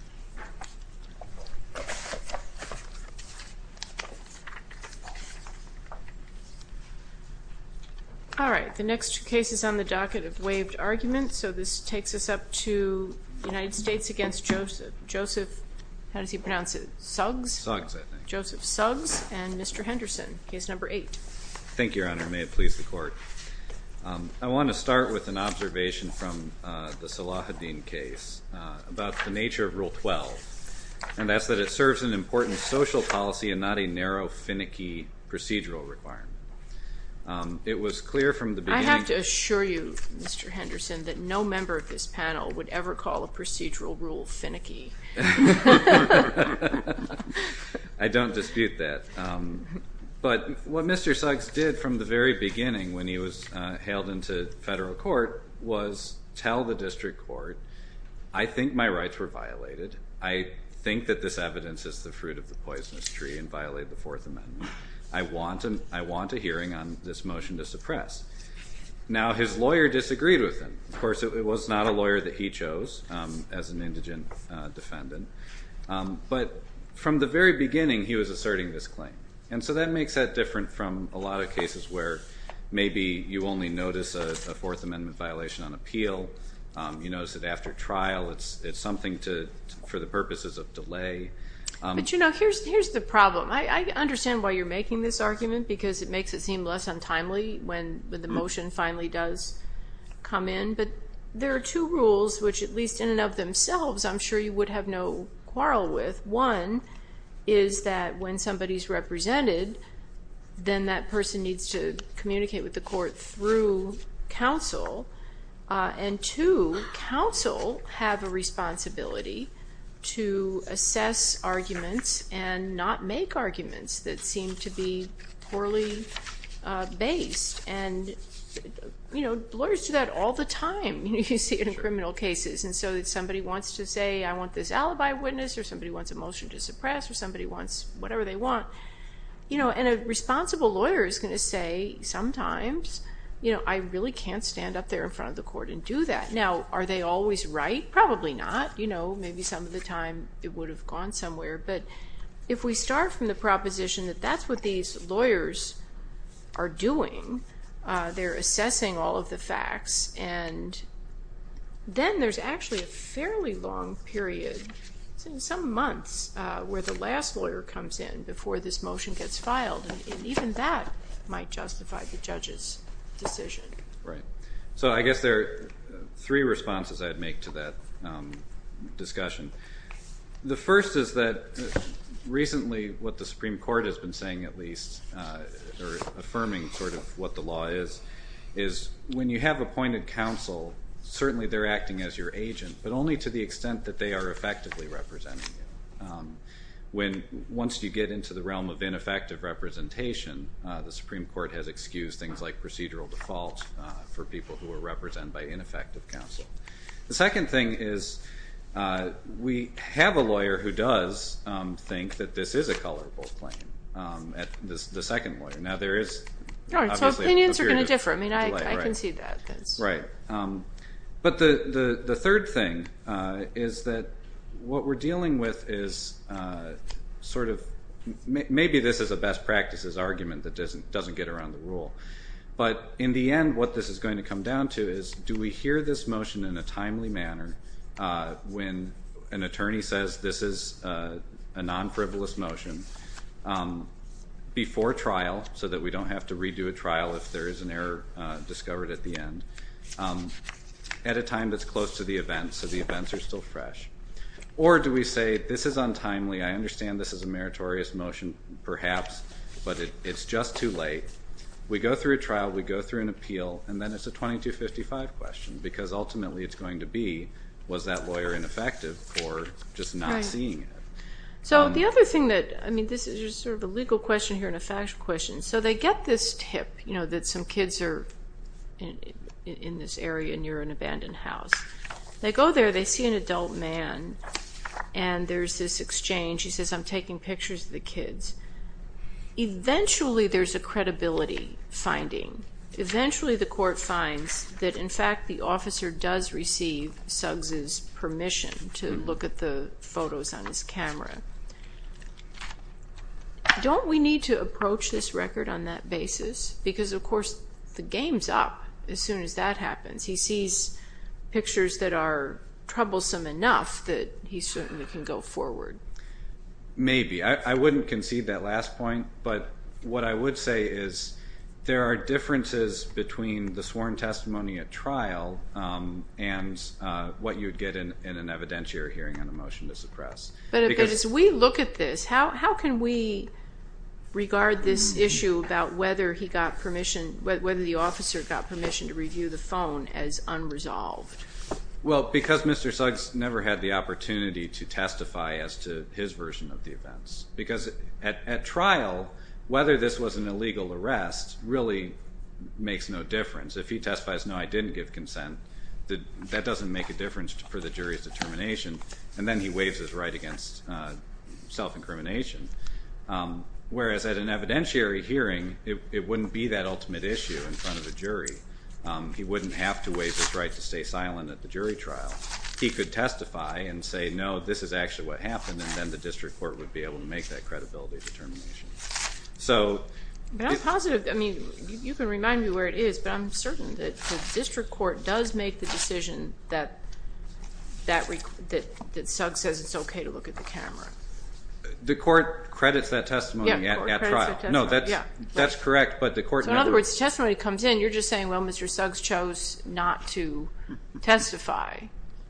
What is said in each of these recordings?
and Mr. Henderson. Case number 8. Thank you, Your Honor. May it please the Court. I want to start with an observation from the Salahuddin case about the nature of Rule 12, and that's that it serves an important social policy and not a narrow, finicky procedural requirement. It was clear from the beginning. I have to assure you, Mr. Henderson, that no member of this panel would ever call a procedural rule finicky. I don't dispute that. But what federal court was tell the district court, I think my rights were violated. I think that this evidence is the fruit of the poisonous tree and violate the Fourth Amendment. I want a hearing on this motion to suppress. Now, his lawyer disagreed with him. Of course, it was not a lawyer that he chose as an indigent defendant. But from the very beginning, he was asserting this claim. And so that makes that different from a lot of cases where maybe you only notice a Fourth Amendment violation on appeal. You notice that after trial, it's something for the purposes of delay. But, you know, here's the problem. I understand why you're making this argument, because it makes it seem less untimely when the motion finally does come in. But there are two rules, which at least in and of themselves, I'm sure you would have no quarrel with. One is that when somebody is represented, then that person needs to communicate with the court through counsel. And two, counsel have a responsibility to assess arguments and not make arguments that seem to be poorly based. And, you know, lawyers do that all the time, you know, you see it in criminal cases. And so if somebody wants to say, I want this alibi witness, or somebody wants a motion to suppress, or somebody wants whatever they want, you know, and a responsible lawyer is going to say, sometimes, you know, I really can't stand up there in front of the court and do that. Now, are they always right? Probably not. You know, maybe some of the time it would have gone somewhere. But if we start from the proposition that that's what these lawyers are doing, they're assessing all of the facts, and then there's actually a fairly long period, some months, where the last lawyer comes in before this motion gets filed. And even that might justify the judge's decision. Right. So I guess there are three responses I'd make to that discussion. The first is that recently, what the Supreme Court has been saying, at least, or affirming sort of what the law is, is when you have appointed counsel, certainly they're acting as your agent, but only to the extent that they are effectively representing you. When, once you get into the realm of ineffective representation, the Supreme Court has excused things like procedural defaults for people who are represented by ineffective counsel. The second thing is, we have a lawyer who does think that this is a colorable claim, the second lawyer. Now there is, obviously, a period of delay, right. So opinions are different. The third thing is that what we're dealing with is sort of, maybe this is a best practices argument that doesn't get around the rule, but in the end, what this is going to come down to is, do we hear this motion in a timely manner, when an attorney says this is a non-frivolous motion, before trial, so that we don't have to redo a trial if there is an error discovered at the end, at a time that's close to the event, so the events are still fresh, or do we say, this is untimely, I understand this is a meritorious motion, perhaps, but it's just too late, we go through a trial, we go through an appeal, and then it's a 2255 question, because ultimately it's going to be, was that lawyer ineffective for just not seeing it. So the other thing that, I mean, this is just sort of a legal question here and a factual question, so they get this tip that some kids are in this area near an abandoned house. They go there, they see an adult man, and there's this exchange, he says, I'm taking pictures of the kids. Eventually, there's a credibility finding. Eventually, the court finds that, in fact, the officer does receive Suggs' permission to look at the photos on his camera. Don't we need to approach this record on that basis? Because, of course, the game's up as soon as that happens. He sees pictures that are troublesome enough that he certainly can go forward. Maybe. I wouldn't concede that last point, but what I would say is there are differences between the sworn testimony at trial and what you'd get in an evidentiary hearing on a motion to suppress. But as we look at this, how can we regard this issue about whether he got permission, whether the officer got permission to review the phone as unresolved? Well, because Mr. Suggs never had the opportunity to testify as to his version of the events. Because at trial, whether this was an illegal arrest really makes no difference. If he testifies, no, I didn't give consent, that doesn't make a difference for the jury's determination. And then he waives his right against self-incrimination. Whereas, at an evidentiary hearing, it wouldn't be that ultimate issue in front of the jury. He wouldn't have to waive his right to stay silent at the jury trial. He could testify and say, no, this is actually what happened, and then the district court would be able to make that credibility determination. So I'm positive. I mean, you can remind me where it is, but I'm certain that the district court does make the decision that Suggs says it's okay to look at the camera. The court credits that testimony at trial. Yeah, the court credits that testimony. No, that's correct. So in other words, the testimony comes in, you're just saying, well, Mr. Suggs chose not to testify.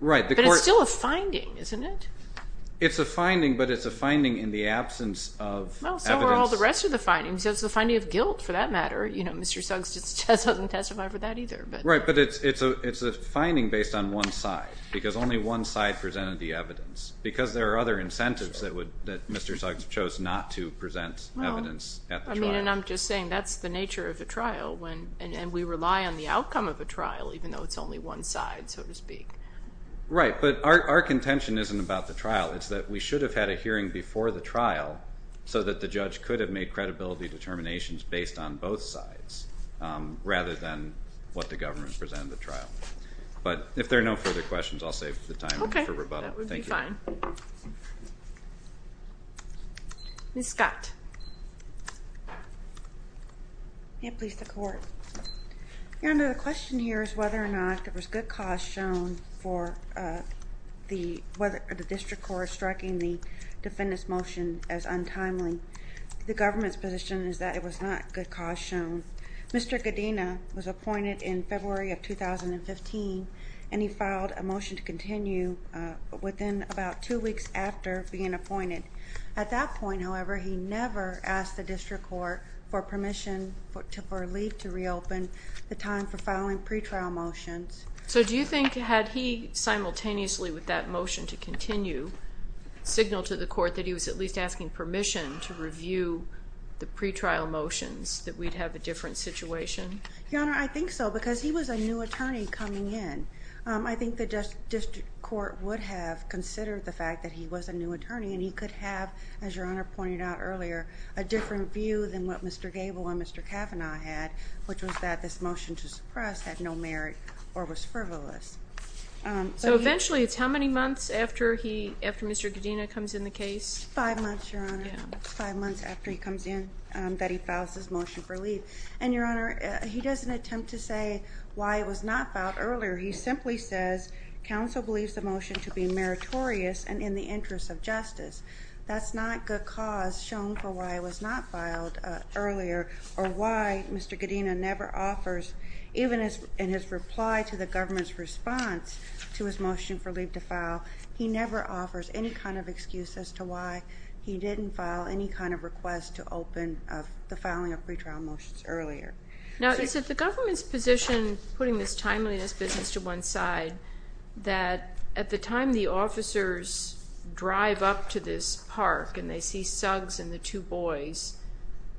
But it's still a finding, isn't it? It's a finding, but it's a finding in the absence of evidence. Well, so are all the rest of the findings. It's the finding of guilt, for that matter. You know, Mr. Suggs doesn't testify for that either. Right, but it's a finding based on one side, because only one side presented the evidence. Because there are other incentives that Mr. Suggs chose not to present evidence at the trial. Well, I mean, and I'm just saying that's the nature of the trial, and we rely on the outcome of a trial, even though it's only one side, so to speak. Right, but our contention isn't about the trial. It's that we should have had a hearing before the trial so that the judge could have made credibility determinations based on both sides, rather than what the government presented at the trial. But if there are no further questions, I'll save the time for rebuttal. Okay, that would be fine. Thank you. Ms. Scott. May it please the Court. Your Honor, the question here is whether or not there was good cause shown for the, whether the district court is striking the defendant's motion as untimely. The government's position is that it was not good cause shown. Mr. Godena was appointed in February of 2015, and he filed a motion to continue within about two weeks after being appointed. At that point, however, he never asked the district court for permission, for leave to reopen the time for filing pretrial motions. So do you think, had he simultaneously with that motion to continue, signaled to the court that he was at least asking permission to review the pretrial motions, that we'd have a different situation? Your Honor, I think so, because he was a new attorney coming in. I think the district court would have considered the fact that he was a new attorney, and he could have, as Your Honor pointed out earlier, a different view than what Mr. Gable and Mr. Kavanaugh had, which was that this motion to suppress had no merit or was frivolous. So eventually, it's how many months after Mr. Godena comes in the case? Five months, Your Honor. Five months after he comes in that he files his motion for leave. And Your Honor, he doesn't attempt to say why it was not filed earlier. He simply says, counsel believes the motion to be meritorious and in the interest of justice. That's not good cause shown for why it was not filed earlier, or why Mr. Godena never in response to his motion for leave to file, he never offers any kind of excuse as to why he didn't file any kind of request to open the filing of pretrial motions earlier. Now, is it the government's position, putting this timeliness business to one side, that at the time the officers drive up to this park and they see Suggs and the two boys,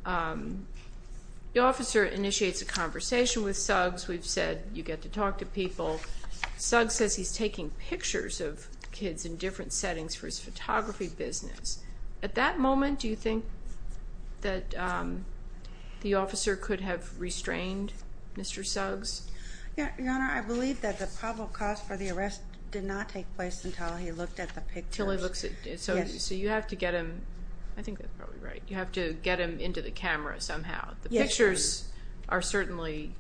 the officer initiates a conversation with Suggs. We've said you get to talk to people. Suggs says he's taking pictures of kids in different settings for his photography business. At that moment, do you think that the officer could have restrained Mr. Suggs? Yeah, Your Honor, I believe that the probable cause for the arrest did not take place until he looked at the pictures. Until he looks at, so you have to get him, I think that's probably right. You have to get him into the camera somehow. The pictures are certainly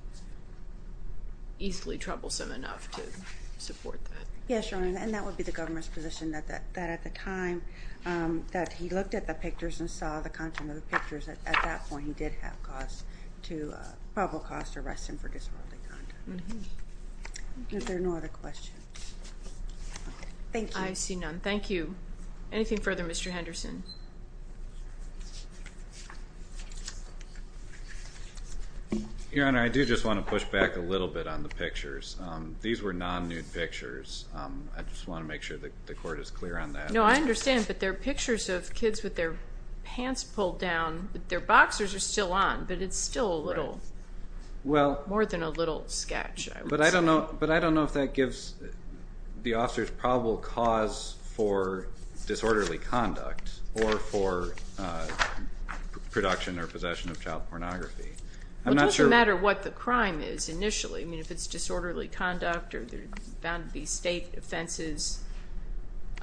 easily troublesome enough to support that. Yes, Your Honor, and that would be the government's position, that at the time that he looked at the pictures and saw the content of the pictures, at that point he did have cause to, probable cause to arrest him for disorderly conduct. Mm-hm. Is there no other questions? Thank you. I see none. Thank you. Anything further, Mr. Henderson? Your Honor, I do just want to push back a little bit on the pictures. These were non-nude pictures. I just want to make sure that the court is clear on that. No, I understand, but they're pictures of kids with their pants pulled down, but their boxers are still on, but it's still a little, more than a little sketch, I would say. But I don't know if that gives the officers probable cause for disorderly conduct or for production or possession of child pornography. I'm not sure. Well, it doesn't matter what the crime is initially. I mean, if it's disorderly conduct or there's bound to be state offenses.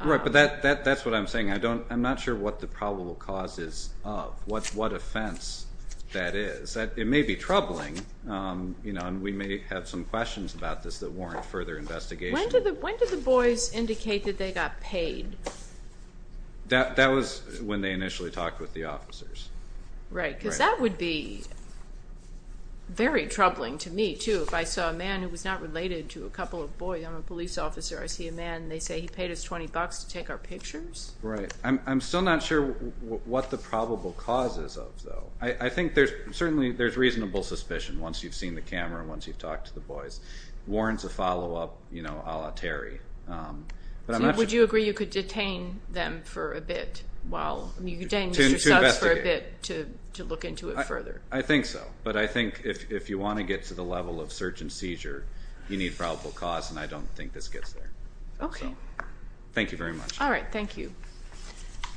Right, but that's what I'm saying. I'm not sure what the probable cause is of, what offense that is. It may be troubling, you know, and we may have some questions about this that warrant further investigation. When did the boys indicate that they got paid? That was when they initially talked with the officers. Right, because that would be very troubling to me, too, if I saw a man who was not related to a couple of boys. I'm a police officer. I see a man, and they say he paid us 20 bucks to take our pictures. Right. I'm still not sure what the probable cause is of, though. I think there's certainly, there's reasonable suspicion once you've seen the camera, once you've talked to the boys. Warrant's a follow-up, you know, a la Terry. Would you agree you could detain them for a bit while, you could detain Mr. Suggs for a bit to look into it further? I think so, but I think if you want to get to the level of search and seizure, you need probable cause, and I don't think this gets there. Okay. Thank you very much. All right. Thank you.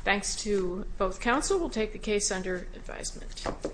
Thanks to both counsel. We'll take the case under advisement.